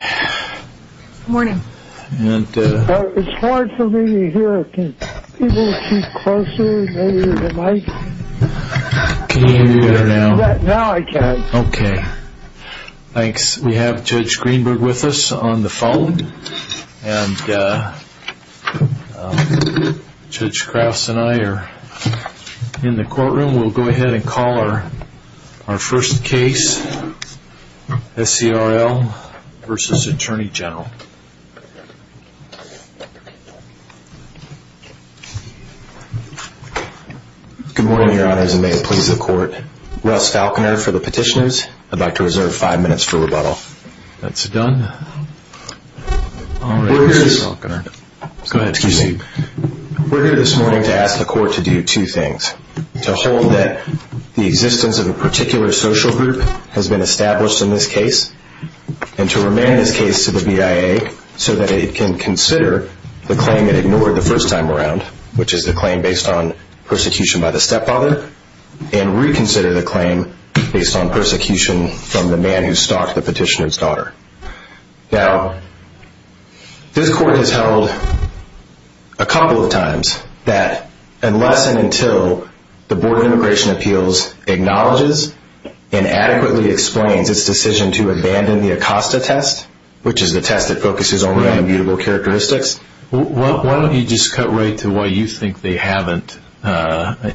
Good morning. It's hard for me to hear. Can you keep closer maybe to the mic? Can you hear now? Now I can. Okay. Thanks. We have Judge Greenberg with us on the phone. And Judge Krause and I are in the courtroom. We'll go ahead and call our first case, S.C.R.L. v. Attorney General. Good morning, your honors, and may it please the court. Russ Falconer for the petitioners, about to reserve five minutes for rebuttal. We're here this morning to ask the court to do two things. To hold that the existence of a particular social group has been established in this case, and to remand this case to the BIA so that it can consider the claim it ignored the first time around, which is the claim based on persecution by the stepfather, and reconsider the claim based on persecution from the man who stalked the petitioner's daughter. Now, this court has held a couple of times that unless and until the Board of Immigration Appeals acknowledges and adequately explains its decision to abandon the Acosta test, which is the test that focuses only on immutable characteristics. Why don't you just cut right to why you think they haven't,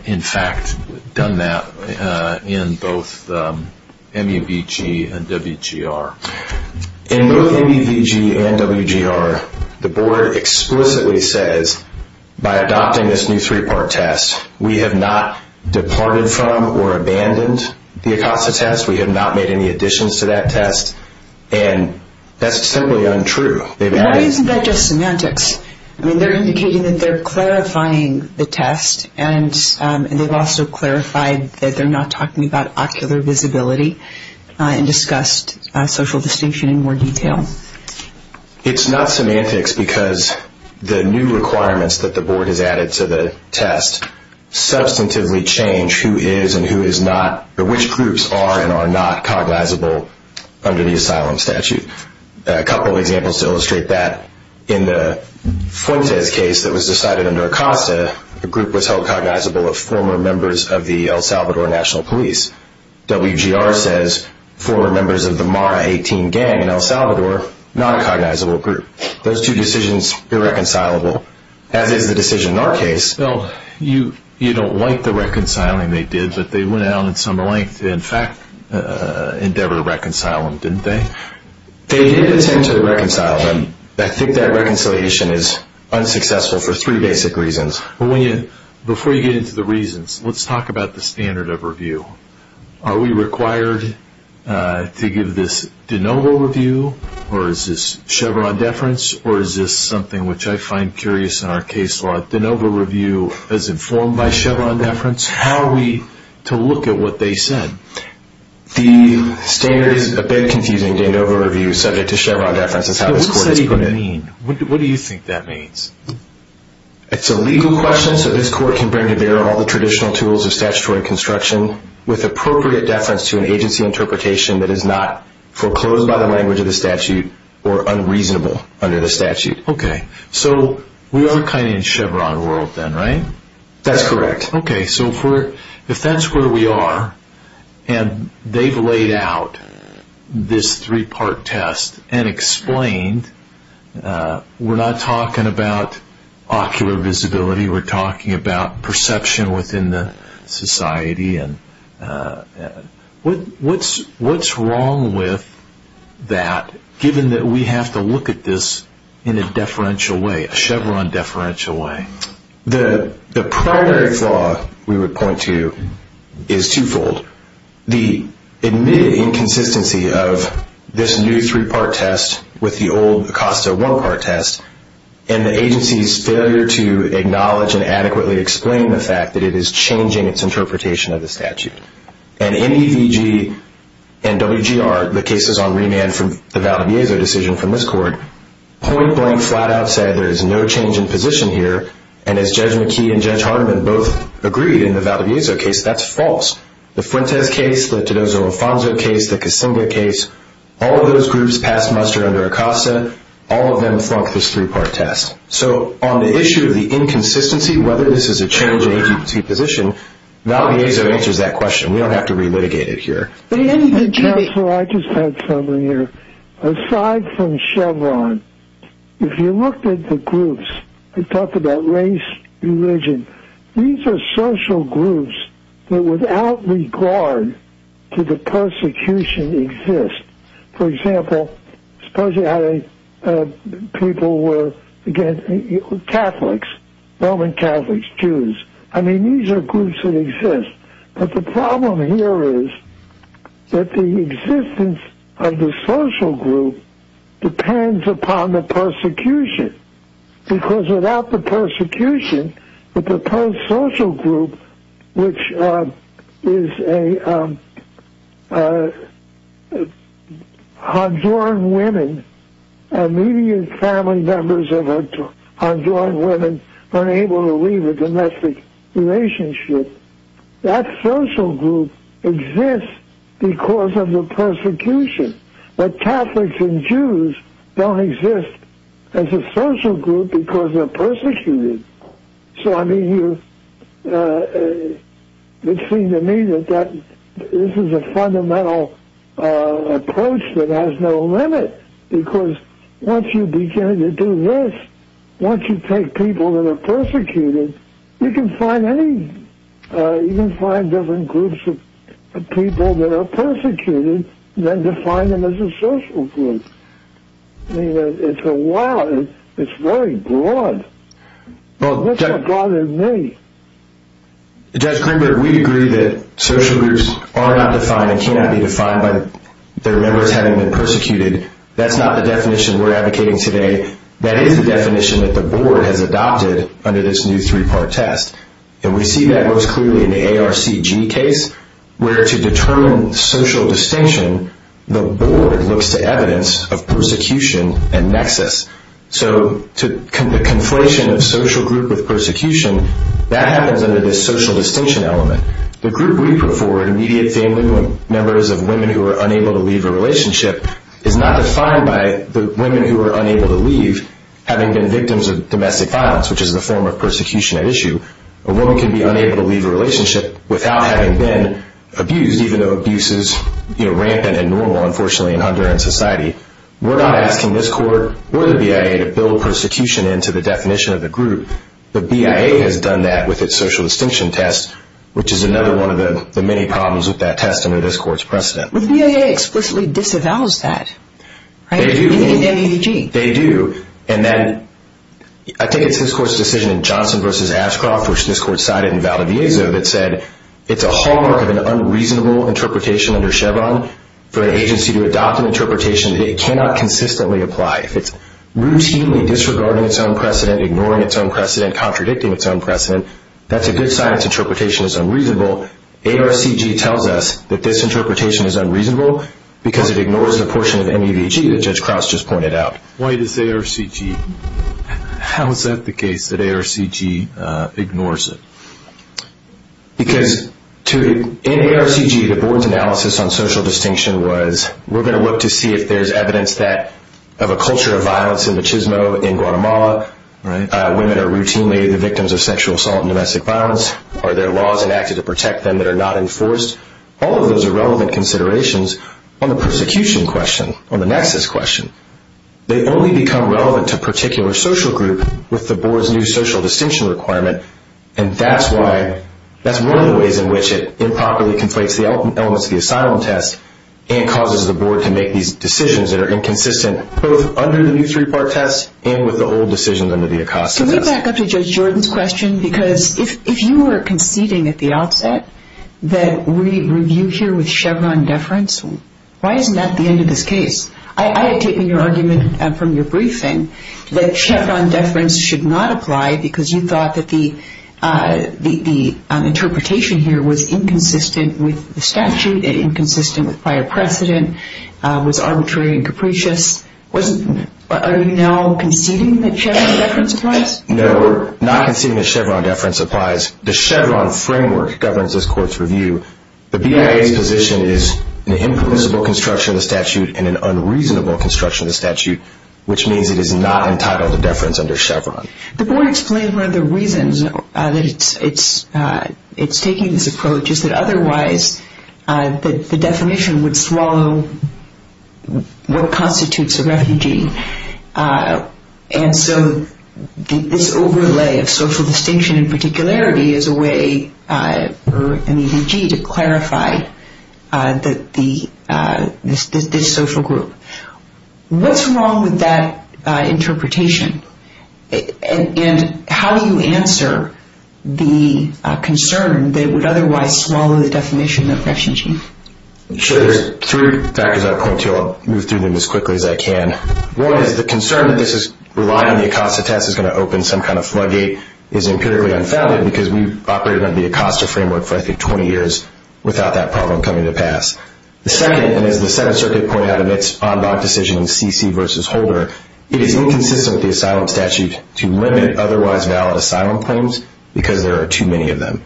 in fact, done that in both MEVG and WGR? In both MEVG and WGR, the Board explicitly says, by adopting this new three-part test, we have not departed from or abandoned the Acosta test. We have not made any additions to that test. And that's simply untrue. Why isn't that just semantics? I mean, they're indicating that they're clarifying the test, and they've also clarified that they're not talking about ocular visibility and discussed social distinction in more detail. It's not semantics because the new requirements that the Board has added to the test substantively change who is and who is not, or which groups are and are not, cognizable under the asylum statute. A couple of examples to illustrate that. In the Fuentes case that was decided under Acosta, the group was held cognizable of former members of the El Salvador National Police. WGR says former members of the Mara 18 gang in El Salvador, not a cognizable group. Those two decisions, irreconcilable, as is the decision in our case. Bill, you don't like the reconciling they did, but they went out in some length, in fact, endeavor to reconcile them, didn't they? They did attempt to reconcile them. I think that reconciliation is unsuccessful for three basic reasons. Before you get into the reasons, let's talk about the standard of review. Are we required to give this de novo review, or is this Chevron deference, or is this something which I find curious in our case law? De novo review is informed by Chevron deference. How are we to look at what they said? The standard is a bit confusing. De novo review subject to Chevron deference is how this court has put it. What do you think that means? It's a legal question, so this court can bring to bear all the traditional tools of statutory construction with appropriate deference to an agency interpretation that is not foreclosed by the language of the statute or unreasonable under the statute. Okay, so we are kind of in Chevron world then, right? That's correct. Okay, so if that's where we are, and they've laid out this three-part test and explained, we're not talking about ocular visibility. We're talking about perception within the society. What's wrong with that, given that we have to look at this in a deferential way, a Chevron deferential way? The primary flaw, we would point to, is twofold. The admitted inconsistency of this new three-part test with the old Acosta one-part test and the agency's failure to acknowledge and adequately explain the fact that it is changing its interpretation of the statute. And MEVG and WGR, the cases on remand from the Valdiviezo decision from this court, point blank, flat out said there is no change in position here, and as Judge McKee and Judge Hardiman both agreed in the Valdiviezo case, that's false. The Fuentes case, the Tedozo-Alfonso case, the Kasinga case, all of those groups passed muster under Acosta. All of them flunked this three-part test. So on the issue of the inconsistency, whether this is a change in ADPT position, Valdiviezo answers that question. We don't have to re-litigate it here. In the test that I just had from you, aside from Chevron, if you looked at the groups that talk about race, religion, these are social groups that without regard to the persecution exist. For example, suppose you had people who were, again, Catholics, Roman Catholics, Jews. I mean, these are groups that exist. But the problem here is that the existence of the social group depends upon the persecution. Because without the persecution, the proposed social group, which is Honduran women, immediate family members of Honduran women unable to leave a domestic relationship, that social group exists because of the persecution. But Catholics and Jews don't exist as a social group because they're persecuted. So I mean, it seems to me that this is a fundamental approach that has no limit. Because once you begin to do this, once you take people that are persecuted, you can find any, you can find different groups of people that are persecuted than define them as a social group. I mean, it's a lot, it's very broad. It's a lot to me. Judge Greenberg, we agree that social groups are not defined and cannot be defined by their members having been persecuted. That's not the definition we're advocating today. That is the definition that the board has adopted under this new three-part test. And we see that most clearly in the ARCG case, where to determine social distinction, the board looks to evidence of persecution and nexus. So the conflation of social group with persecution, that happens under this social distinction element. The group we prefer, immediate family members of women who are unable to leave a relationship, is not defined by the women who are unable to leave having been victims of domestic violence, which is the form of persecution at issue. A woman can be unable to leave a relationship without having been abused, even though abuse is rampant and normal, unfortunately, in Honduran society. We're not asking this court or the BIA to build persecution into the definition of the group. The BIA has done that with its social distinction test, which is another one of the many problems with that test under this court's precedent. But the BIA explicitly disavows that, right? They do. Even in the ARCG. They do. And then I think it's this court's decision in Johnson v. Ashcroft, which this court cited in Valdeviezo, that said it's a hallmark of an unreasonable interpretation under Chevron for an agency to adopt an interpretation that it cannot consistently apply. If it's routinely disregarding its own precedent, ignoring its own precedent, contradicting its own precedent, that's a good sign its interpretation is unreasonable. ARCG tells us that this interpretation is unreasonable because it ignores the portion of MEVG that Judge Crouse just pointed out. Why does ARCG? How is that the case that ARCG ignores it? Because in ARCG, the board's analysis on social distinction was, we're going to look to see if there's evidence of a culture of violence and machismo in Guatemala. Women are routinely the victims of sexual assault and domestic violence. Are there laws enacted to protect them that are not enforced? All of those are relevant considerations on the persecution question, on the nexus question. They only become relevant to a particular social group with the board's new social distinction requirement, and that's one of the ways in which it improperly conflates the elements of the asylum test and causes the board to make these decisions that are inconsistent both under the new three-part test Can we back up to Judge Jordan's question? Because if you were conceding at the outset that we review here with Chevron deference, why isn't that the end of this case? I had taken your argument from your briefing that Chevron deference should not apply because you thought that the interpretation here was inconsistent with the statute, inconsistent with prior precedent, was arbitrary and capricious. Are you now conceding that Chevron deference applies? No, we're not conceding that Chevron deference applies. The Chevron framework governs this court's review. The BIA's position is an impermissible construction of the statute and an unreasonable construction of the statute, which means it is not entitled to deference under Chevron. The board explained one of the reasons that it's taking this approach is that otherwise the definition would swallow what constitutes a refugee. And so this overlay of social distinction in particularity is a way for an EDG to clarify this social group. What's wrong with that interpretation? And how do you answer the concern that it would otherwise swallow the definition of refugee? Sure. There are three factors I would point to. I'll move through them as quickly as I can. One is the concern that this is relying on the ACOSTA test is going to open some kind of floodgate is empirically unfounded because we've operated under the ACOSTA framework for, I think, 20 years without that problem coming to pass. The second, and as the Seventh Circuit pointed out in its en bas decision in C.C. v. Holder, it is inconsistent with the asylum statute to limit otherwise valid asylum claims because there are too many of them.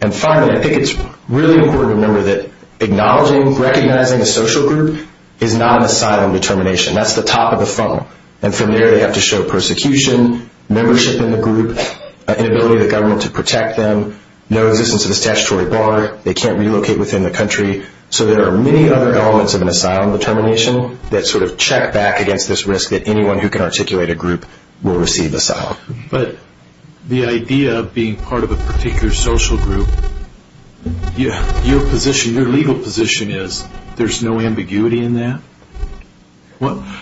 And finally, I think it's really important to remember that acknowledging, recognizing a social group is not an asylum determination. That's the top of the funnel. And from there they have to show persecution, membership in the group, inability of the government to protect them, no existence of a statutory bar, they can't relocate within the country. So there are many other elements of an asylum determination that sort of check back against this risk that anyone who can articulate a group will receive asylum. But the idea of being part of a particular social group, your legal position is there's no ambiguity in that?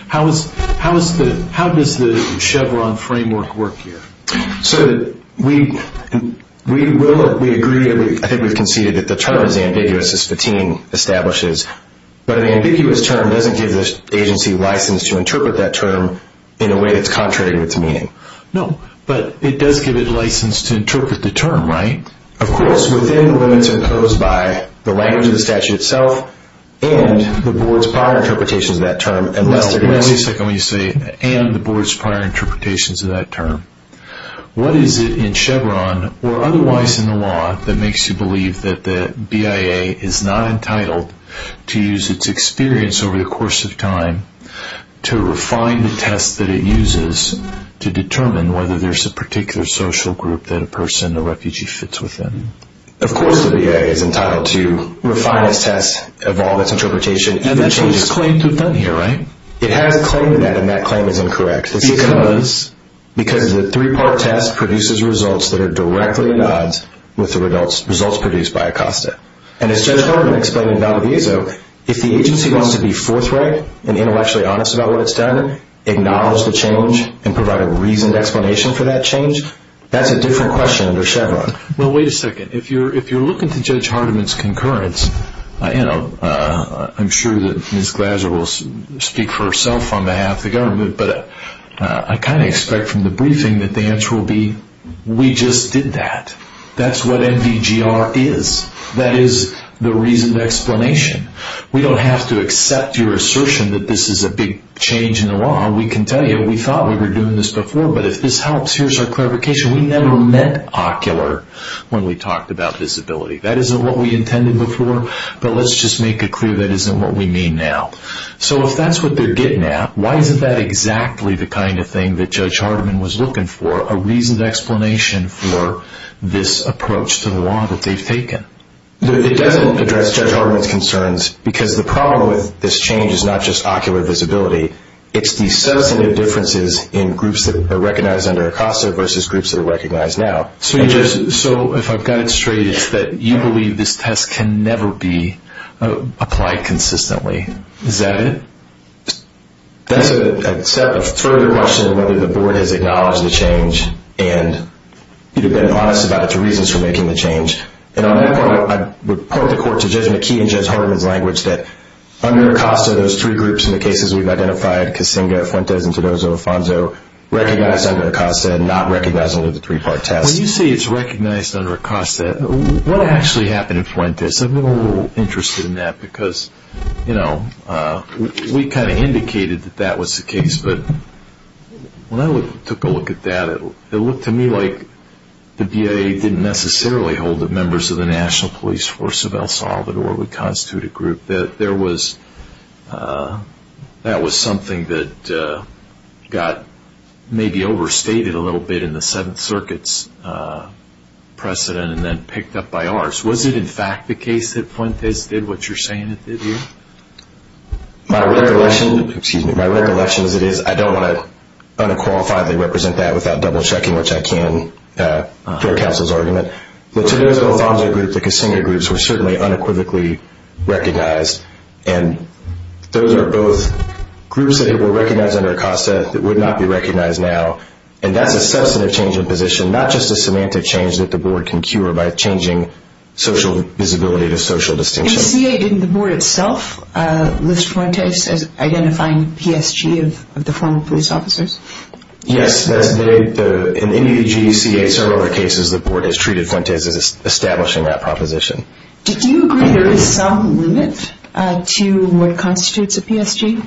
How does the Chevron framework work here? So we agree, I think we've conceded that the term is ambiguous, as Fatim establishes, but an ambiguous term doesn't give the agency license to interpret that term in a way that's contrary to its meaning. No, but it does give it license to interpret the term, right? Of course, within the limits imposed by the language of the statute itself and the board's prior interpretations of that term. Wait a second when you say, and the board's prior interpretations of that term. What is it in Chevron, or otherwise in the law, that makes you believe that the BIA is not entitled to use its experience over the course of time to refine the test that it uses to determine whether there's a particular social group that a person, a refugee, fits within? Of course the BIA is entitled to refine its test, evolve its interpretation. And that's what it's claimed to have done here, right? It has claimed that, and that claim is incorrect. Because the three-part test produces results that are directly in odds with the results produced by ACOSTA. And as Judge Hardiman explained in Valdezzo, if the agency wants to be forthright and intellectually honest about what it's done, acknowledge the change, and provide a reasoned explanation for that change, that's a different question under Chevron. Well, wait a second. If you're looking to Judge Hardiman's concurrence, I'm sure that Ms. Glazer will speak for herself on behalf of the government, but I kind of expect from the briefing that the answer will be, we just did that. That's what NVGR is. That is the reasoned explanation. We don't have to accept your assertion that this is a big change in the law. We can tell you we thought we were doing this before, but if this helps, here's our clarification. We never meant ocular when we talked about disability. That isn't what we intended before, but let's just make it clear that isn't what we mean now. So if that's what they're getting at, why isn't that exactly the kind of thing that Judge Hardiman was looking for, a reasoned explanation for this approach to the law that they've taken? It doesn't address Judge Hardiman's concerns, because the problem with this change is not just ocular visibility. It's the substantive differences in groups that are recognized under ACOSTA versus groups that are recognized now. So if I've got it straight, you believe this test can never be applied consistently. Is that it? That's a further question of whether the Board has acknowledged the change and you've been honest about its reasons for making the change. And on that point, I'd report the Court to Judge McKee and Judge Hardiman's language that under ACOSTA, those three groups in the cases we've identified, Kasinga, Fuentes, and Tedozo-Alfonso, recognized under ACOSTA and not recognized under the three-part test. When you say it's recognized under ACOSTA, what actually happened in Fuentes? I've been a little interested in that, because we kind of indicated that that was the case. But when I took a look at that, it looked to me like the BIA didn't necessarily hold that members of the National Police Force of El Salvador would constitute a group. That was something that got maybe overstated a little bit in the Seventh Circuit's precedent and then picked up by ours. Was it in fact the case that Fuentes did what you're saying it did here? My recollection is I don't want to unqualifiedly represent that without double-checking, which I can during counsel's argument. The Tedozo-Alfonso group, the Kasinga groups, were certainly unequivocally recognized, and those are both groups that were recognized under ACOSTA that would not be recognized now. And that's a substantive change in position, not just a semantic change that the Board can cure by changing social visibility to social distinction. And CA, didn't the Board itself list Fuentes as identifying PSG of the former police officers? In several other cases, the Board has treated Fuentes as establishing that proposition. Did you agree there is some limit to what constitutes a PSG?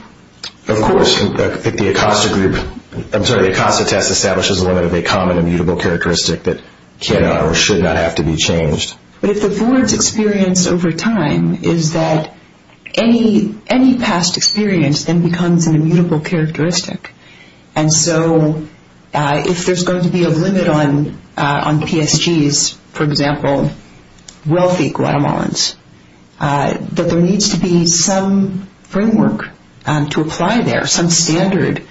Of course. The ACOSTA test establishes a limit of a common immutable characteristic that cannot or should not have to be changed. But if the Board's experience over time is that any past experience then becomes an immutable characteristic, and so if there's going to be a limit on PSGs, for example, wealthy Guatemalans, that there needs to be some framework to apply there, some standard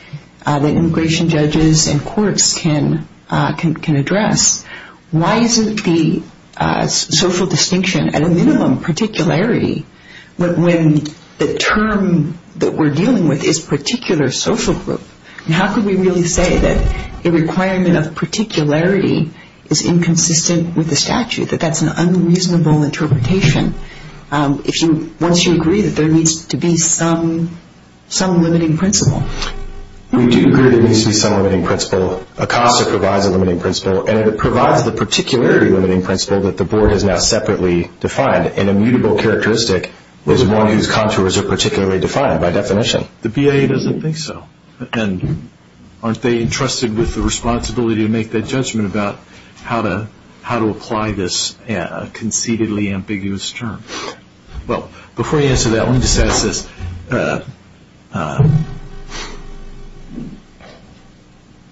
that immigration judges and courts can address. Why isn't the social distinction at a minimum particularity when the term that we're dealing with is particular social group? How can we really say that a requirement of particularity is inconsistent with the statute, that that's an unreasonable interpretation, once you agree that there needs to be some limiting principle? We do agree there needs to be some limiting principle. ACOSTA provides a limiting principle, and it provides the particularity limiting principle that the Board has now separately defined, and immutable characteristic is one whose contours are particularly defined by definition. The BIA doesn't think so. And aren't they entrusted with the responsibility to make that judgment about how to apply this conceitedly ambiguous term? Well, before you answer that, let me just ask this.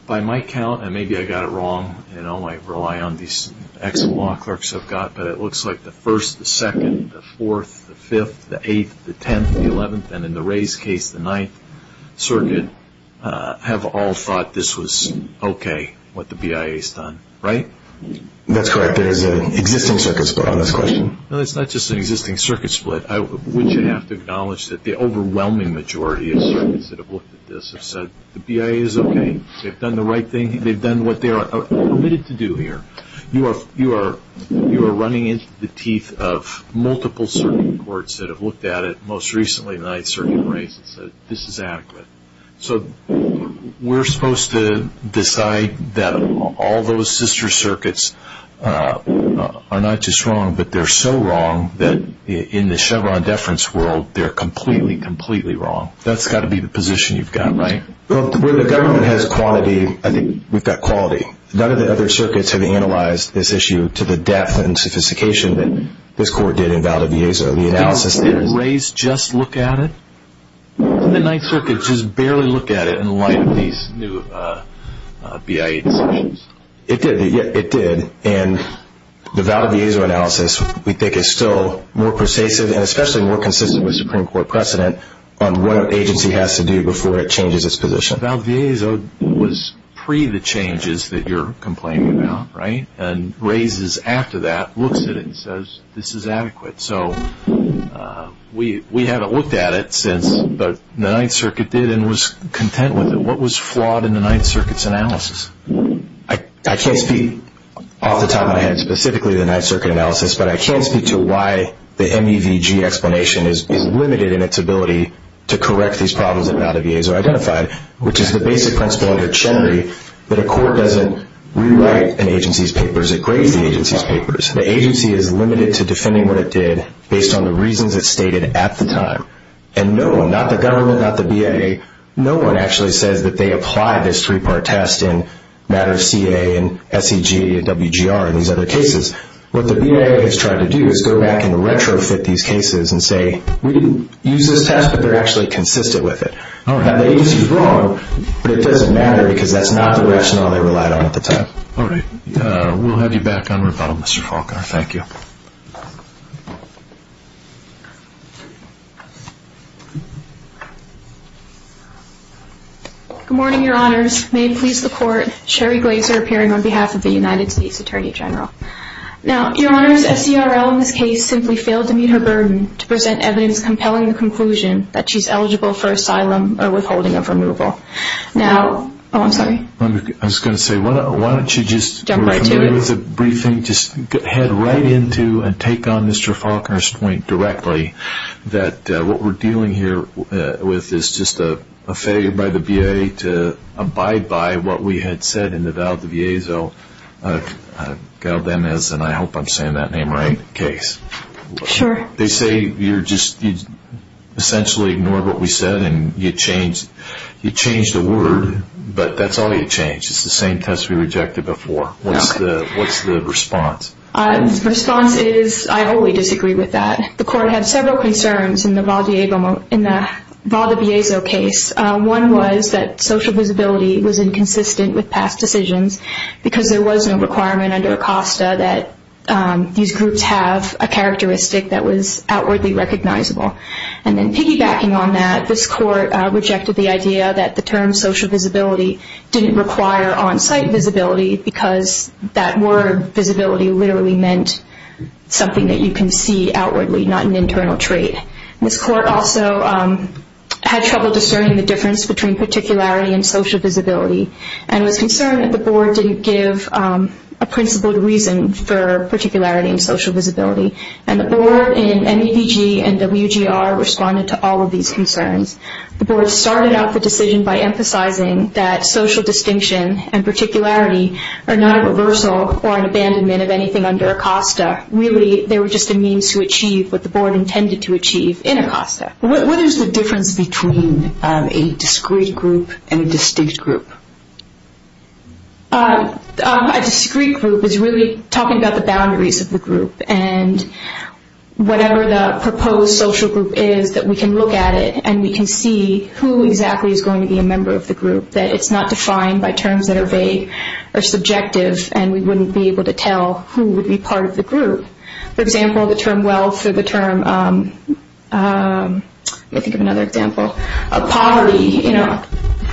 By my count, and maybe I got it wrong, and I might rely on these excellent law clerks I've got, but it looks like the 1st, the 2nd, the 4th, the 5th, the 8th, the 10th, the 11th, and in the Ray's case, the 9th Circuit, have all thought this was okay, what the BIA has done. Right? That's correct. There is an existing circuit split on this question. No, it's not just an existing circuit split. Wouldn't you have to acknowledge that the overwhelming majority of circuits that have looked at this have said, the BIA is okay. They've done the right thing. They've done what they are permitted to do here. You are running into the teeth of multiple circuit courts that have looked at it, most recently the 9th Circuit and Ray's, and said, this is adequate. So we're supposed to decide that all those sister circuits are not just wrong, but they're so wrong that in the Chevron deference world, they're completely, completely wrong. That's got to be the position you've got, right? Well, where the government has quality, I think we've got quality. None of the other circuits have analyzed this issue to the depth and sophistication that this court did in Valdeviezo. Did Ray's just look at it? Didn't the 9th Circuit just barely look at it in light of these new BIA decisions? It did. It did. And the Valdeviezo analysis, we think, is still more pervasive and especially more consistent with Supreme Court precedent on what an agency has to do before it changes its position. But Valdeviezo was pre the changes that you're complaining about, right? And Ray's, after that, looks at it and says, this is adequate. So we haven't looked at it since, but the 9th Circuit did and was content with it. What was flawed in the 9th Circuit's analysis? I can't speak off the top of my head specifically to the 9th Circuit analysis, but I can speak to why the MEVG explanation is limited in its ability to correct these problems that Valdeviezo identified, which is the basic principle of iterationary, that a court doesn't rewrite an agency's papers. It grades the agency's papers. The agency is limited to defending what it did based on the reasons it stated at the time. And no one, not the government, not the BIA, no one actually says that they apply this three-part test in matters CA and SEG and WGR and these other cases. What the BIA has tried to do is go back and retrofit these cases and say, we didn't use this test, but they're actually consistent with it. Now, the agency's wrong, but it doesn't matter because that's not the rationale they relied on at the time. All right. We'll have you back on rebuttal, Mr. Falkner. Thank you. Good morning, Your Honors. May it please the Court, Sherry Glazer appearing on behalf of the United States Attorney General. Now, Your Honors, SCRL in this case simply failed to meet her burden to present evidence compelling the conclusion that she's eligible for asylum or withholding of removal. Now, oh, I'm sorry. I was going to say, why don't you just head right into and take on Mr. Falkner's point directly that what we're dealing here with is just a failure by the BIA to abide by what we had said in the Valdevezo-Galdenes, and I hope I'm saying that name right, case. Sure. They say you essentially ignored what we said and you changed the word, but that's all you changed. It's the same test we rejected before. What's the response? The response is I wholly disagree with that. The Court had several concerns in the Valdevezo case. One was that social visibility was inconsistent with past decisions because there was no requirement under ACOSTA that these groups have a characteristic that was outwardly recognizable. And then piggybacking on that, this Court rejected the idea that the term social visibility didn't require on-site visibility because that word visibility literally meant something that you can see outwardly, not an internal trait. This Court also had trouble discerning the difference between particularity and social visibility and was concerned that the Board didn't give a principled reason for particularity and social visibility. And the Board in MEDG and WGR responded to all of these concerns. The Board started out the decision by emphasizing that social distinction and particularity are not a reversal or an abandonment of anything under ACOSTA. Really, they were just a means to achieve what the Board intended to achieve in ACOSTA. What is the difference between a discrete group and a distinct group? A discrete group is really talking about the boundaries of the group. And whatever the proposed social group is, that we can look at it and we can see who exactly is going to be a member of the group, that it's not defined by terms that are vague or subjective and we wouldn't be able to tell who would be part of the group. For example, the term wealth or the term poverty,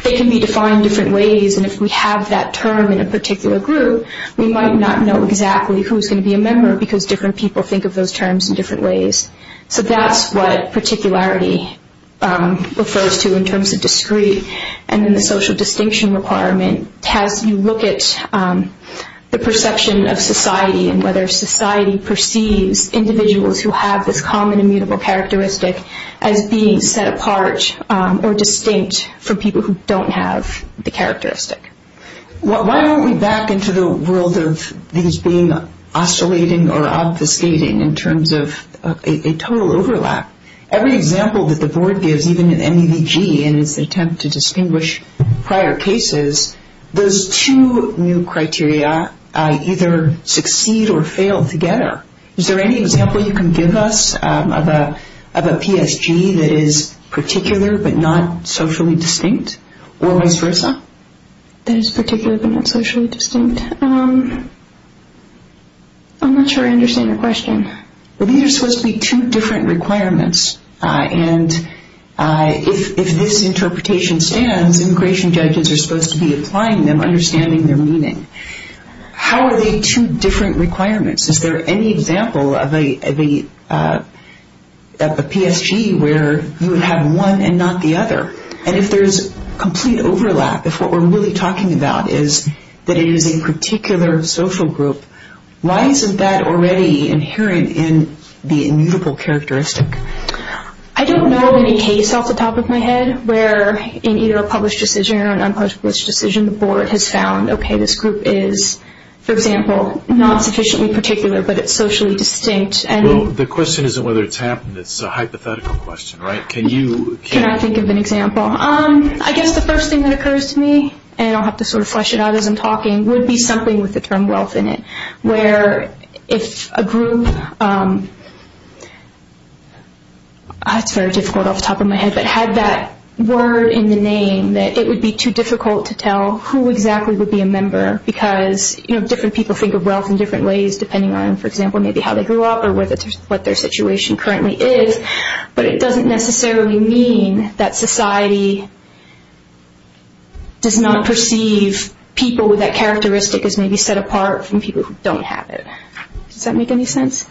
they can be defined in different ways and if we have that term in a particular group, we might not know exactly who is going to be a member because different people think of those terms in different ways. So that's what particularity refers to in terms of discrete. And then the social distinction requirement has you look at the perception of society and whether society perceives individuals who have this common immutable characteristic as being set apart or distinct from people who don't have the characteristic. Why don't we back into the world of these being oscillating or obfuscating in terms of a total overlap? Every example that the Board gives, even in MEVG in its attempt to distinguish prior cases, those two new criteria either succeed or fail together. Is there any example you can give us of a PSG that is particular but not socially distinct or vice versa? That is particular but not socially distinct? I'm not sure I understand your question. These are supposed to be two different requirements and if this interpretation stands, immigration judges are supposed to be applying them, understanding their meaning. How are they two different requirements? Is there any example of a PSG where you would have one and not the other? And if there's complete overlap, if what we're really talking about is that it is a particular social group, why isn't that already inherent in the immutable characteristic? I don't know of any case off the top of my head where in either a published decision or an unpublished decision, the Board has found, okay, this group is, for example, not sufficiently particular but it's socially distinct. Well, the question isn't whether it's happened, it's a hypothetical question, right? Can you... Can I think of an example? I guess the first thing that occurs to me, and I'll have to sort of flesh it out as I'm talking, would be something with the term wealth in it. Where if a group, that's very difficult off the top of my head, but had that word in the name that it would be too difficult to tell who exactly would be a member because different people think of wealth in different ways depending on, for example, maybe how they grew up or what their situation currently is. But it doesn't necessarily mean that society does not perceive people with that characteristic as maybe set apart from people who don't have it. Does that make any sense?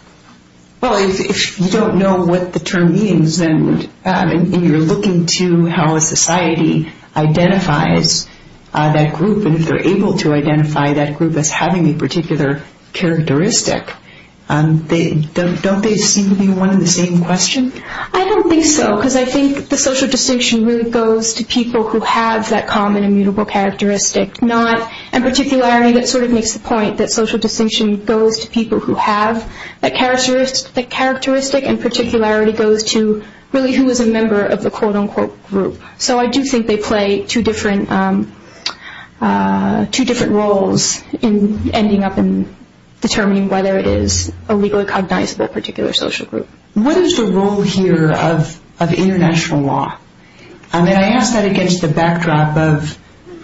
Well, if you don't know what the term means and you're looking to how a society identifies that group and if they're able to identify that group as having a particular characteristic, don't they seem to be one and the same question? I don't think so because I think the social distinction really goes to people who have that common immutable characteristic and particularity. That sort of makes the point that social distinction goes to people who have that characteristic and particularity goes to really who is a member of the quote-unquote group. So I do think they play two different roles in ending up in determining whether it is a legally cognizable particular social group. What is the role here of international law? I ask that against the backdrop of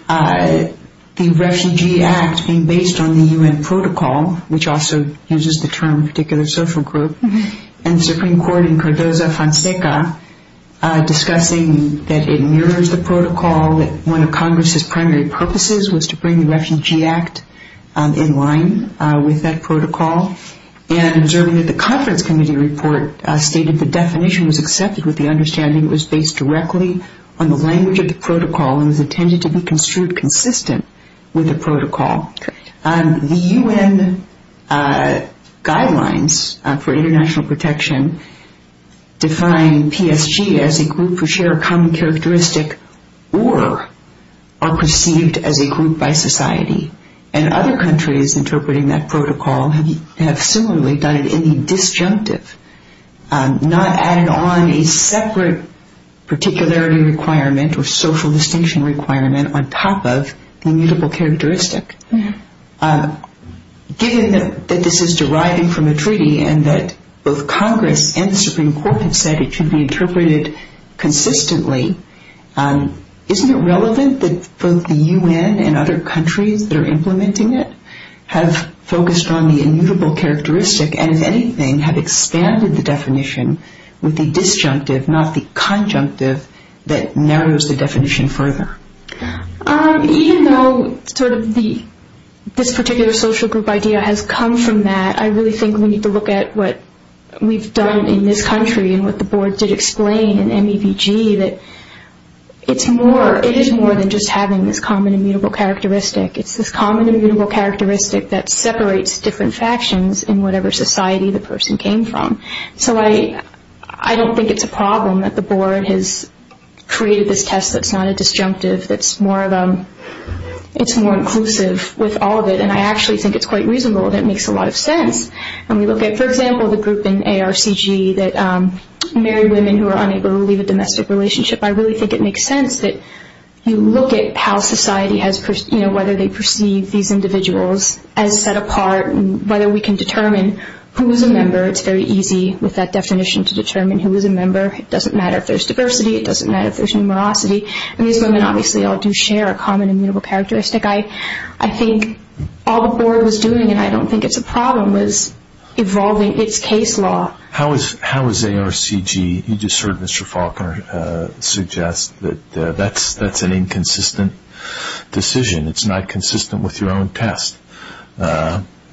the Refugee Act being based on the U.N. protocol, which also uses the term particular social group, and the Supreme Court in Cardozo-Fonseca discussing that it mirrors the protocol, that one of Congress' primary purposes was to bring the Refugee Act in line with that protocol, and observing that the conference committee report stated the definition was accepted with the understanding it was based directly on the language of the protocol and was intended to be construed consistent with the protocol. The U.N. guidelines for international protection define PSG as a group who share a common characteristic or are perceived as a group by society, and other countries interpreting that protocol have similarly done it in the disjunctive, not added on a separate particularity requirement or social distinction requirement on top of the immutable characteristic. Given that this is deriving from a treaty and that both Congress and the Supreme Court have said it should be interpreted consistently, isn't it relevant that both the U.N. and other countries that are implementing it have expanded the definition with the disjunctive, not the conjunctive, that narrows the definition further? Even though sort of this particular social group idea has come from that, I really think we need to look at what we've done in this country and what the board did explain in MEBG, that it is more than just having this common immutable characteristic. It's this common immutable characteristic that separates different factions in whatever society the person came from. So I don't think it's a problem that the board has created this test that's not a disjunctive, that's more inclusive with all of it, and I actually think it's quite reasonable and it makes a lot of sense when we look at, for example, the group in ARCG that married women who are unable to leave a domestic relationship. I really think it makes sense that you look at how society has perceived, these individuals as set apart and whether we can determine who is a member. It's very easy with that definition to determine who is a member. It doesn't matter if there's diversity, it doesn't matter if there's numerosity, and these women obviously all do share a common immutable characteristic. I think all the board was doing, and I don't think it's a problem, was evolving its case law. How is ARCG, you just heard Mr. Faulkner suggest, that that's an inconsistent decision? It's not consistent with your own test.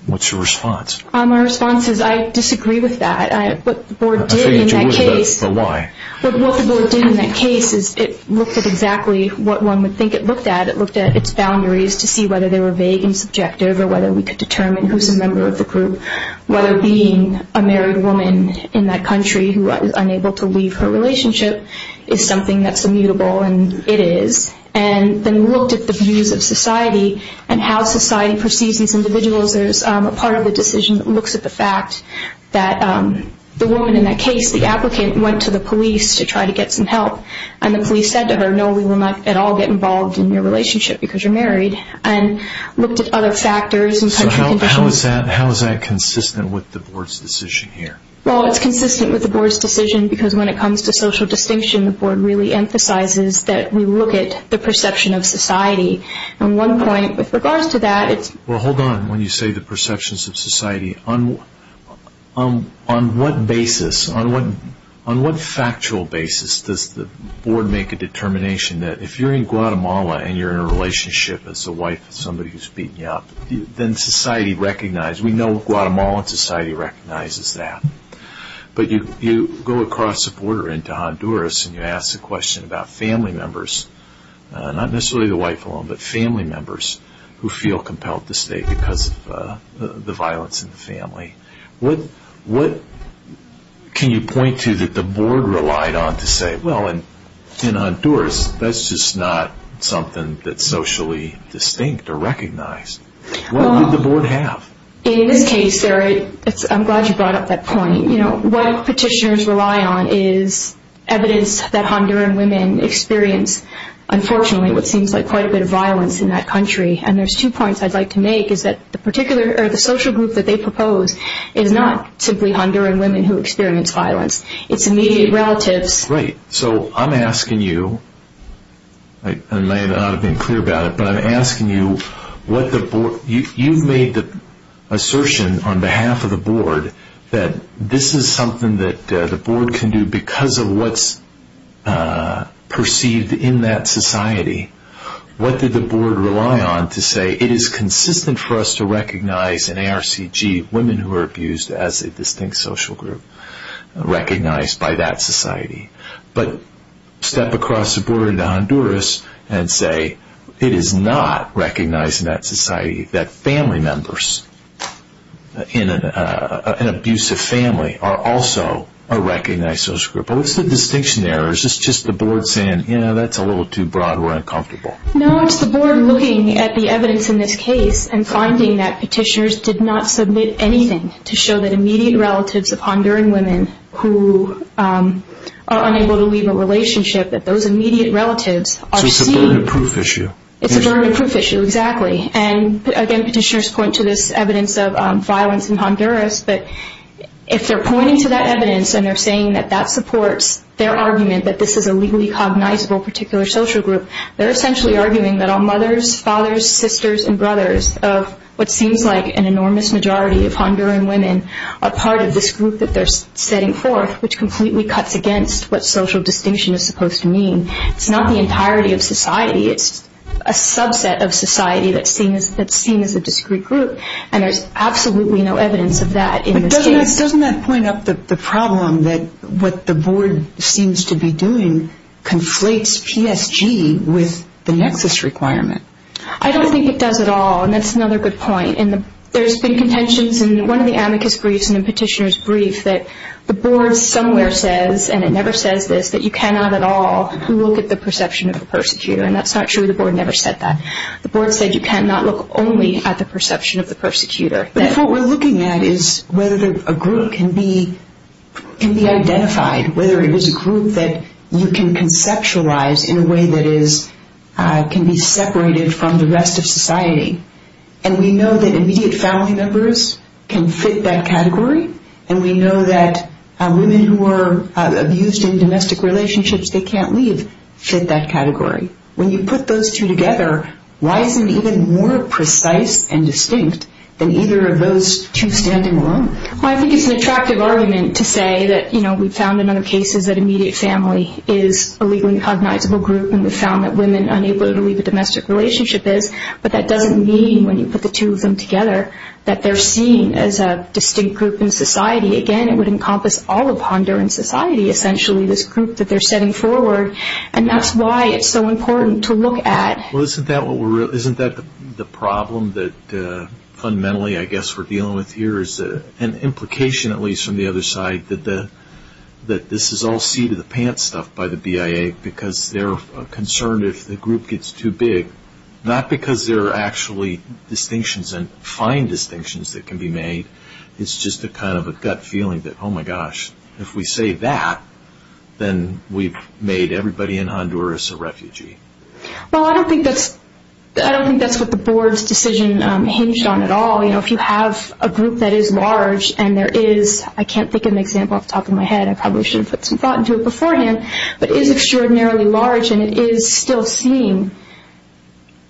What's your response? My response is I disagree with that. I figured you would, but why? What the board did in that case is it looked at exactly what one would think it looked at. It looked at its boundaries to see whether they were vague and subjective or whether we could determine who is a member of the group, whether being a married woman in that country who is unable to leave her relationship is something that's immutable, and it is. Then we looked at the views of society and how society perceives these individuals. There's a part of the decision that looks at the fact that the woman in that case, the applicant, went to the police to try to get some help, and the police said to her, no, we will not at all get involved in your relationship because you're married, and looked at other factors and country conditions. How is that consistent with the board's decision here? It's consistent with the board's decision because when it comes to social distinction, the board really emphasizes that we look at the perception of society. At one point, with regards to that, it's... Well, hold on. When you say the perceptions of society, on what basis, on what factual basis, does the board make a determination that if you're in Guatemala and you're in a relationship as a wife with somebody who's beating you up, then society recognizes. We know Guatemalan society recognizes that. But you go across the border into Honduras, and you ask the question about family members, not necessarily the wife alone, but family members, who feel compelled to stay because of the violence in the family. What can you point to that the board relied on to say, well, in Honduras, that's just not something that's socially distinct or recognized? What did the board have? In this case, I'm glad you brought up that point. What petitioners rely on is evidence that Honduran women experience, unfortunately, what seems like quite a bit of violence in that country. And there's two points I'd like to make, is that the social group that they propose is not simply Honduran women who experience violence. It's immediate relatives. Right. So I'm asking you, and I may not have been clear about it, but I'm asking you, you've made the assertion on behalf of the board that this is something that the board can do because of what's perceived in that society. What did the board rely on to say, it is consistent for us to recognize in ARCG women who are abused as a distinct social group, recognized by that society. But step across the border into Honduras and say, it is not recognized in that society that family members in an abusive family are also a recognized social group. What's the distinction there? Or is this just the board saying, yeah, that's a little too broad. We're uncomfortable. No, it's the board looking at the evidence in this case and finding that petitioners did not submit anything to show that immediate relatives of Honduran women who are unable to leave a relationship, that those immediate relatives are seen. So it's a burden proof issue. It's a burden proof issue, exactly. And again, petitioners point to this evidence of violence in Honduras, but if they're pointing to that evidence and they're saying that that supports their argument that this is a legally cognizable particular social group, they're essentially arguing that all mothers, fathers, sisters, and brothers of what seems like an enormous majority of Honduran women are part of this group that they're setting forth, which completely cuts against what social distinction is supposed to mean. It's not the entirety of society. It's a subset of society that's seen as a discrete group. And there's absolutely no evidence of that in this case. But doesn't that point up the problem that what the board seems to be doing conflates PSG with the nexus requirement? I don't think it does at all, and that's another good point. There's been contentions in one of the amicus briefs in the petitioner's brief that the board somewhere says, and it never says this, that you cannot at all look at the perception of the persecutor, and that's not true. The board never said that. The board said you cannot look only at the perception of the persecutor. But if what we're looking at is whether a group can be identified, whether it is a group that you can conceptualize in a way that can be separated from the rest of society, and we know that immediate family members can fit that category, and we know that women who are abused in domestic relationships they can't leave fit that category, when you put those two together, why isn't it even more precise and distinct than either of those two standing alone? Well, I think it's an attractive argument to say that, you know, we've found in other cases that immediate family is a legally cognizable group, and we've found that women unable to leave a domestic relationship is, but that doesn't mean when you put the two of them together that they're seen as a distinct group in society. Again, it would encompass all of Honduran society, essentially, this group that they're setting forward, and that's why it's so important to look at. Well, isn't that the problem that fundamentally, I guess, we're dealing with here is an implication, at least from the other side, that this is all seat-of-the-pants stuff by the BIA because they're concerned if the group gets too big, not because there are actually distinctions and fine distinctions that can be made, it's just a kind of a gut feeling that, oh, my gosh, if we say that, then we've made everybody in Honduras a refugee. Well, I don't think that's what the board's decision hinged on at all. If you have a group that is large and there is, I can't think of an example off the top of my head, I probably should have put some thought into it beforehand, but is extraordinarily large and it is still seen,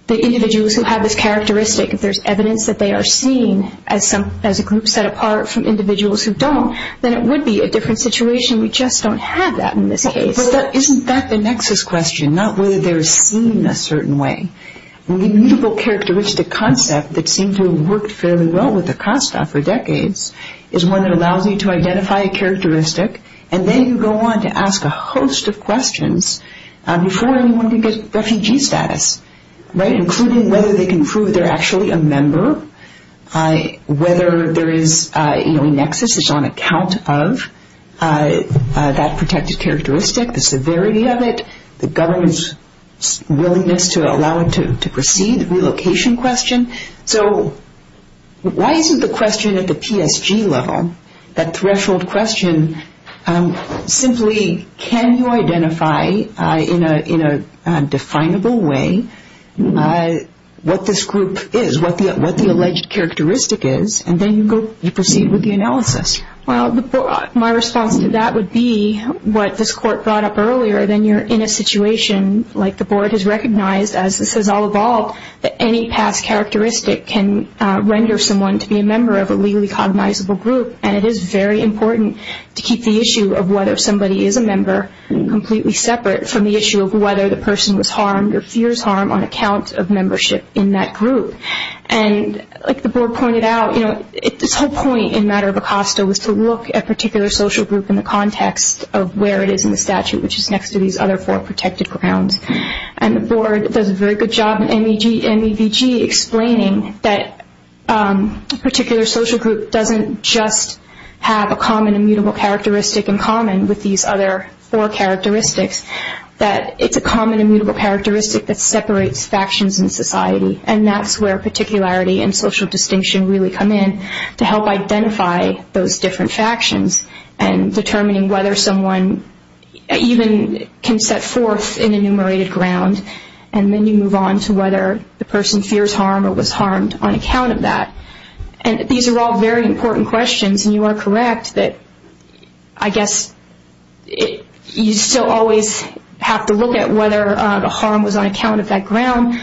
the individuals who have this characteristic, if there's evidence that they are seen as a group set apart from individuals who don't, then it would be a different situation. We just don't have that in this case. Isn't that the nexus question, not whether they're seen a certain way? The immutable characteristic concept that seemed to have worked fairly well with Acosta for decades is one that allows you to identify a characteristic and then you go on to ask a host of questions before anyone can get refugee status, right, including whether they can prove they're actually a member, whether there is a nexus that's on account of that protected characteristic, the severity of it, the government's willingness to allow it to proceed, the relocation question. So why isn't the question at the PSG level, that threshold question, simply can you identify in a definable way what this group is, what the alleged characteristic is, and then you proceed with the analysis? Well, my response to that would be what this court brought up earlier, then you're in a situation like the board has recognized, as this has all evolved, that any past characteristic can render someone to be a member of a legally cognizable group, and it is very important to keep the issue of whether somebody is a member completely separate from the issue of whether the person was harmed or fears harm on account of membership in that group. And like the board pointed out, you know, this whole point in matter of Acosta was to look at a particular social group in the context of where it is in the statute, which is next to these other four protected grounds. And the board does a very good job in MEVG explaining that a particular social group doesn't just have a common immutable characteristic in common with these other four characteristics, that it's a common immutable characteristic that separates factions in society, and that's where particularity and social distinction really come in to help identify those different factions and determining whether someone even can set forth an enumerated ground, and then you move on to whether the person fears harm or was harmed on account of that. And these are all very important questions, and you are correct that, I guess, you still always have to look at whether the harm was on account of that ground,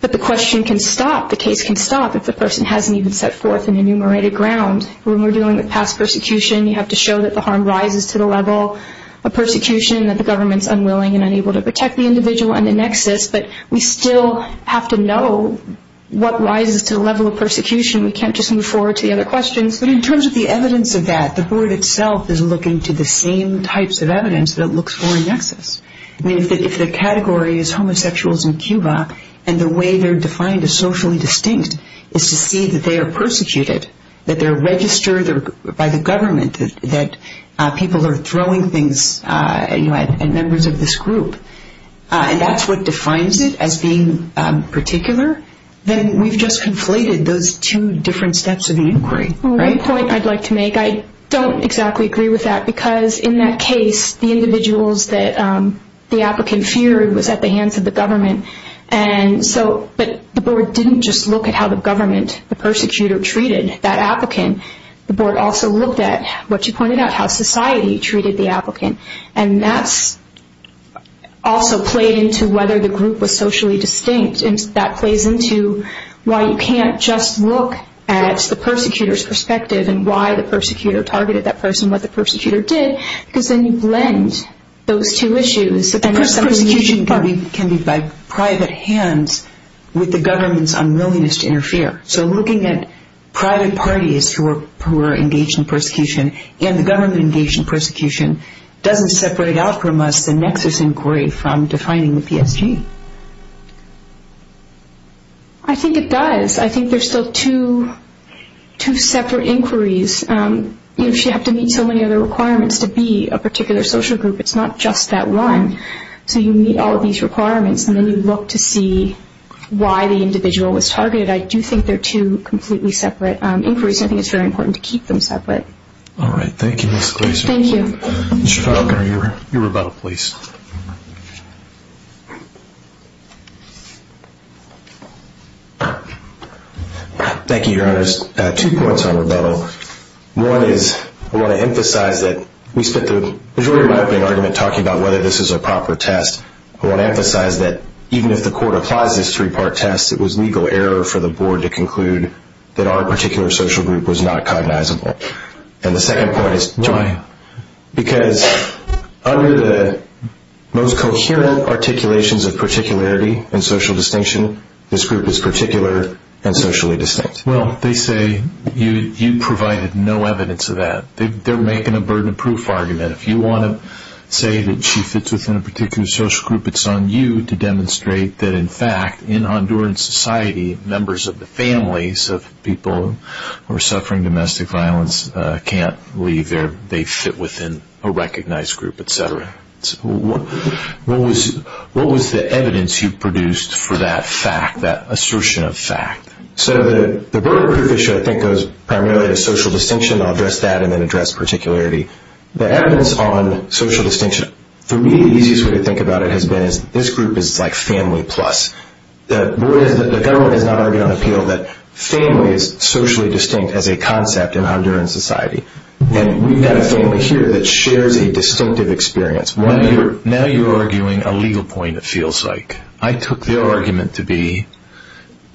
but the question can stop, the case can stop if the person hasn't even set forth an enumerated ground. When we're dealing with past persecution, you have to show that the harm rises to the level of persecution, that the government's unwilling and unable to protect the individual and the nexus, but we still have to know what rises to the level of persecution. We can't just move forward to the other questions. But in terms of the evidence of that, the board itself is looking to the same types of evidence that it looks for in nexus. I mean, if the category is homosexuals in Cuba, and the way they're defined as socially distinct is to see that they are persecuted, that they're registered by the government, that people are throwing things at members of this group, and that's what defines it as being particular, then we've just conflated those two different steps of an inquiry. One point I'd like to make, I don't exactly agree with that, because in that case, the individuals that the applicant feared was at the hands of the government, but the board didn't just look at how the government, the persecutor, treated that applicant. The board also looked at, what you pointed out, how society treated the applicant, and that's also played into whether the group was socially distinct, and that plays into why you can't just look at the persecutor's perspective and why the persecutor targeted that person, what the persecutor did, because then you blend those two issues. Persecution can be by private hands with the government's unwillingness to interfere, so looking at private parties who are engaged in persecution and the government engaged in persecution doesn't separate out from us the nexus inquiry from defining the PSG. I think it does. I think there's still two separate inquiries. You should have to meet so many other requirements to be a particular social group. It's not just that one. So you meet all of these requirements, and then you look to see why the individual was targeted. I do think they're two completely separate inquiries, and I think it's very important to keep them separate. All right. Thank you, Ms. Glaser. Thank you. Mr. Falconer, you were about a place. Thank you, Your Honor. Two points on rebuttal. One is I want to emphasize that we spent the majority of my opening argument talking about whether this is a proper test. I want to emphasize that even if the court applies this three-part test, it was legal error for the board to conclude that our particular social group was not cognizable. And the second point is why? Because under the most coherent articulations of particularity and social distinction, this group is particular and socially distinct. Well, they say you provided no evidence of that. They're making a burden-proof argument. If you want to say that she fits within a particular social group, it's on you to demonstrate that, in fact, in Honduran society, the members of the families of people who are suffering domestic violence can't leave there. They fit within a recognized group, et cetera. What was the evidence you produced for that fact, that assertion of fact? So the burden-proof issue, I think, goes primarily to social distinction. I'll address that and then address particularity. The evidence on social distinction, for me, the easiest way to think about it has been this group is like family plus. The government is not arguing on appeal that family is socially distinct as a concept in Honduran society. And we've got a family here that shares a distinctive experience. Now you're arguing a legal point, it feels like. I took their argument to be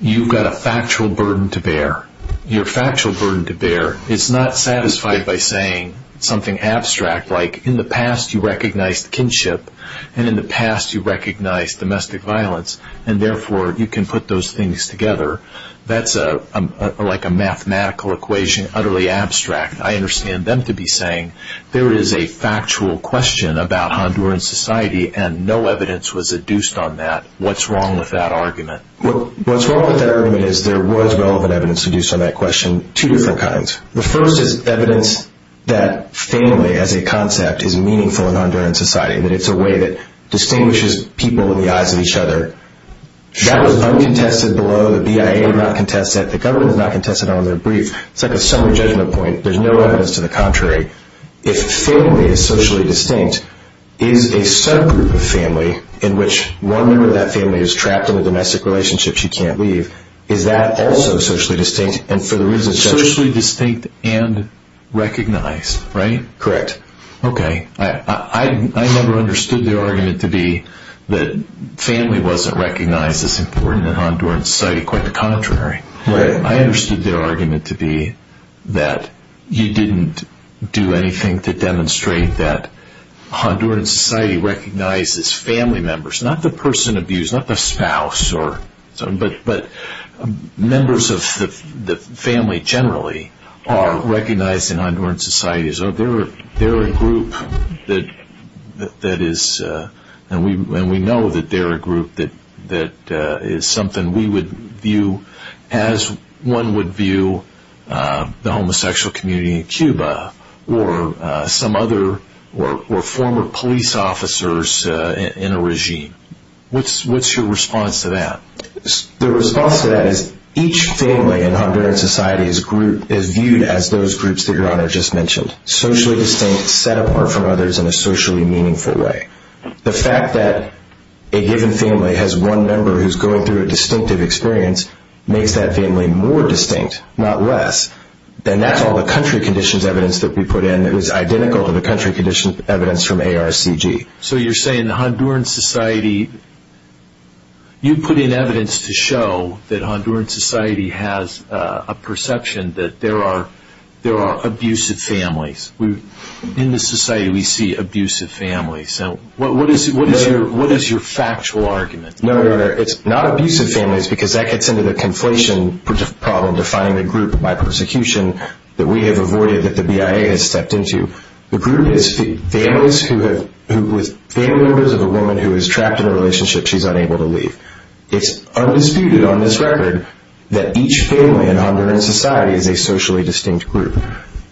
you've got a factual burden to bear. You're a factual burden to bear. It's not satisfied by saying something abstract like in the past you recognized kinship and in the past you recognized domestic violence and, therefore, you can put those things together. That's like a mathematical equation, utterly abstract. I understand them to be saying there is a factual question about Honduran society and no evidence was adduced on that. What's wrong with that argument? What's wrong with that argument is there was relevant evidence adduced on that question, two different kinds. The first is evidence that family as a concept is meaningful in Honduran society, that it's a way that distinguishes people in the eyes of each other. That was uncontested below. The BIA did not contest that. The government has not contested it on their brief. It's like a summary judgment point. There's no evidence to the contrary. If family is socially distinct, is a subgroup of family in which one member of that family is trapped in a domestic relationship she can't leave, is that also socially distinct and for the reasons... Socially distinct and recognized, right? Correct. Okay. I never understood their argument to be that family wasn't recognized as important in Honduran society. Quite the contrary. Right. I understood their argument to be that you didn't do anything to demonstrate that Honduran society recognizes family members, not the person abused, not the spouse, but members of the family generally are recognized in Honduran society. So they're a group that is... And we know that they're a group that is something we would view as one would view the homosexual community in Cuba or some other... or former police officers in a regime. What's your response to that? The response to that is each family in Honduran society is viewed as those groups that Your Honor just mentioned. Socially distinct, set apart from others in a socially meaningful way. The fact that a given family has one member who's going through a distinctive experience makes that family more distinct, not less. And that's all the country conditions evidence that we put in. It was identical to the country conditions evidence from ARCG. So you're saying the Honduran society... You put in evidence to show that Honduran society has a perception that there are abusive families. In this society we see abusive families. What is your factual argument? No, Your Honor, it's not abusive families because that gets into the conflation problem defining the group by persecution that we have avoided that the BIA has stepped into. The group is families with family members of a woman who is trapped in a relationship she's unable to leave. It's undisputed on this record that each family in Honduran society is a socially distinct group.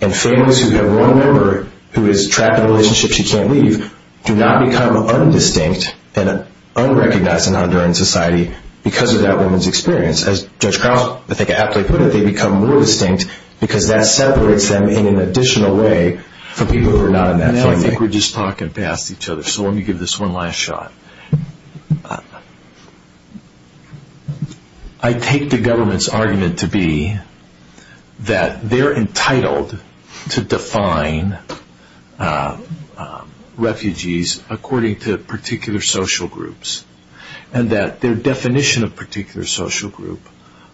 And families who have one member who is trapped in a relationship she can't leave do not become undistinct and unrecognized in Honduran society because of that woman's experience. As Judge Krause, I think, aptly put it, they become more distinct because that separates them in an additional way from people who are not in that family. I think we're just talking past each other. So let me give this one last shot. I take the government's argument to be that they're entitled to define refugees according to particular social groups. And that their definition of particular social group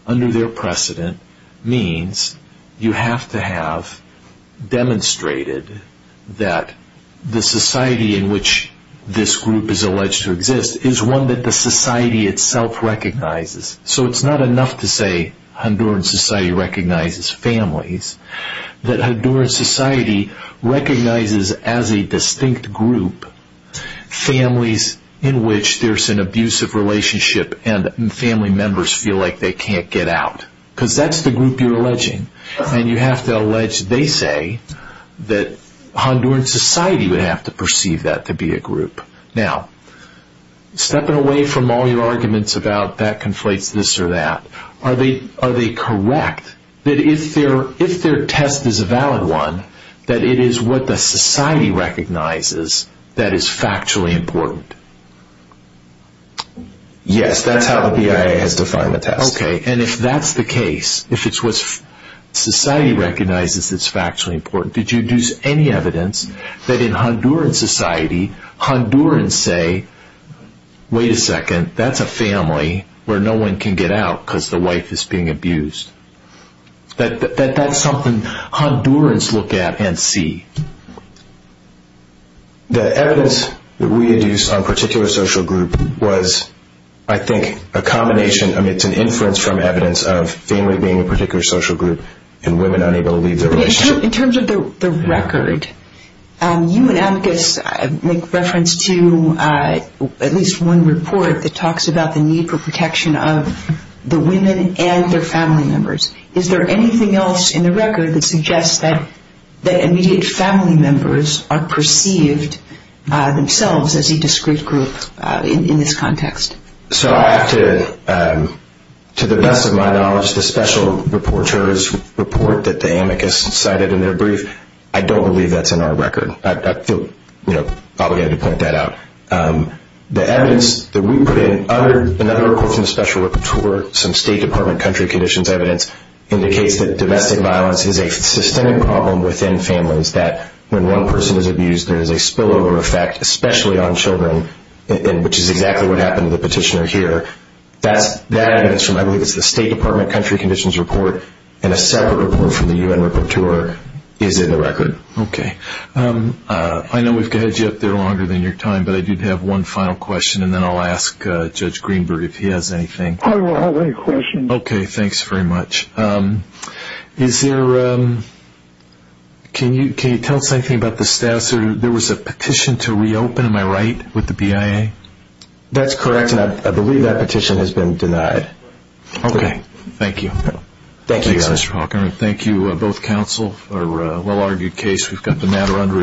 under their precedent means you have to have demonstrated that the society in which this group is alleged to exist is one that the society itself recognizes. So it's not enough to say Honduran society recognizes families, that Honduran society recognizes as a distinct group families in which there's an abusive relationship and family members feel like they can't get out. Because that's the group you're alleging. And you have to allege, they say, that Honduran society would have to perceive that to be a group. Now, stepping away from all your arguments about that conflates this or that, are they correct that if their test is a valid one, that it is what the society recognizes that is factually important? Yes, that's how the BIA has defined the test. Okay, and if that's the case, if it's what society recognizes that's factually important, did you deduce any evidence that in Honduran society, Hondurans say, wait a second, that's a family where no one can get out because the wife is being abused. That's something Hondurans look at and see. The evidence that we deduced on a particular social group was, I think, a combination, I mean, it's an inference from evidence of family being a particular social group and women unable to leave their relationship. In terms of the record, you and Amicus make reference to at least one report that talks about the need for protection of the women and their family members. Is there anything else in the record that suggests that immediate family members are perceived themselves as a discrete group in this context? So I have to, to the best of my knowledge, the special rapporteur's report that the Amicus cited in their brief, I don't believe that's in our record. I feel obligated to point that out. The evidence that we put in under another report from the special rapporteur, some State Department country conditions evidence, indicates that domestic violence is a systemic problem within families, that when one person is abused there is a spillover effect, especially on children, which is exactly what happened to the petitioner here. That evidence from, I believe it's the State Department country conditions report and a separate report from the UN rapporteur is in the record. Okay. I know we've got you up there longer than your time, but I do have one final question, and then I'll ask Judge Greenberg if he has anything. I don't have any questions. Okay, thanks very much. Is there, can you tell us anything about the status, there was a petition to reopen, am I right, with the BIA? That's correct, and I believe that petition has been denied. Okay, thank you. Thank you, Your Honor. Thank you both counsel for a well-argued case. We've got the matter under review.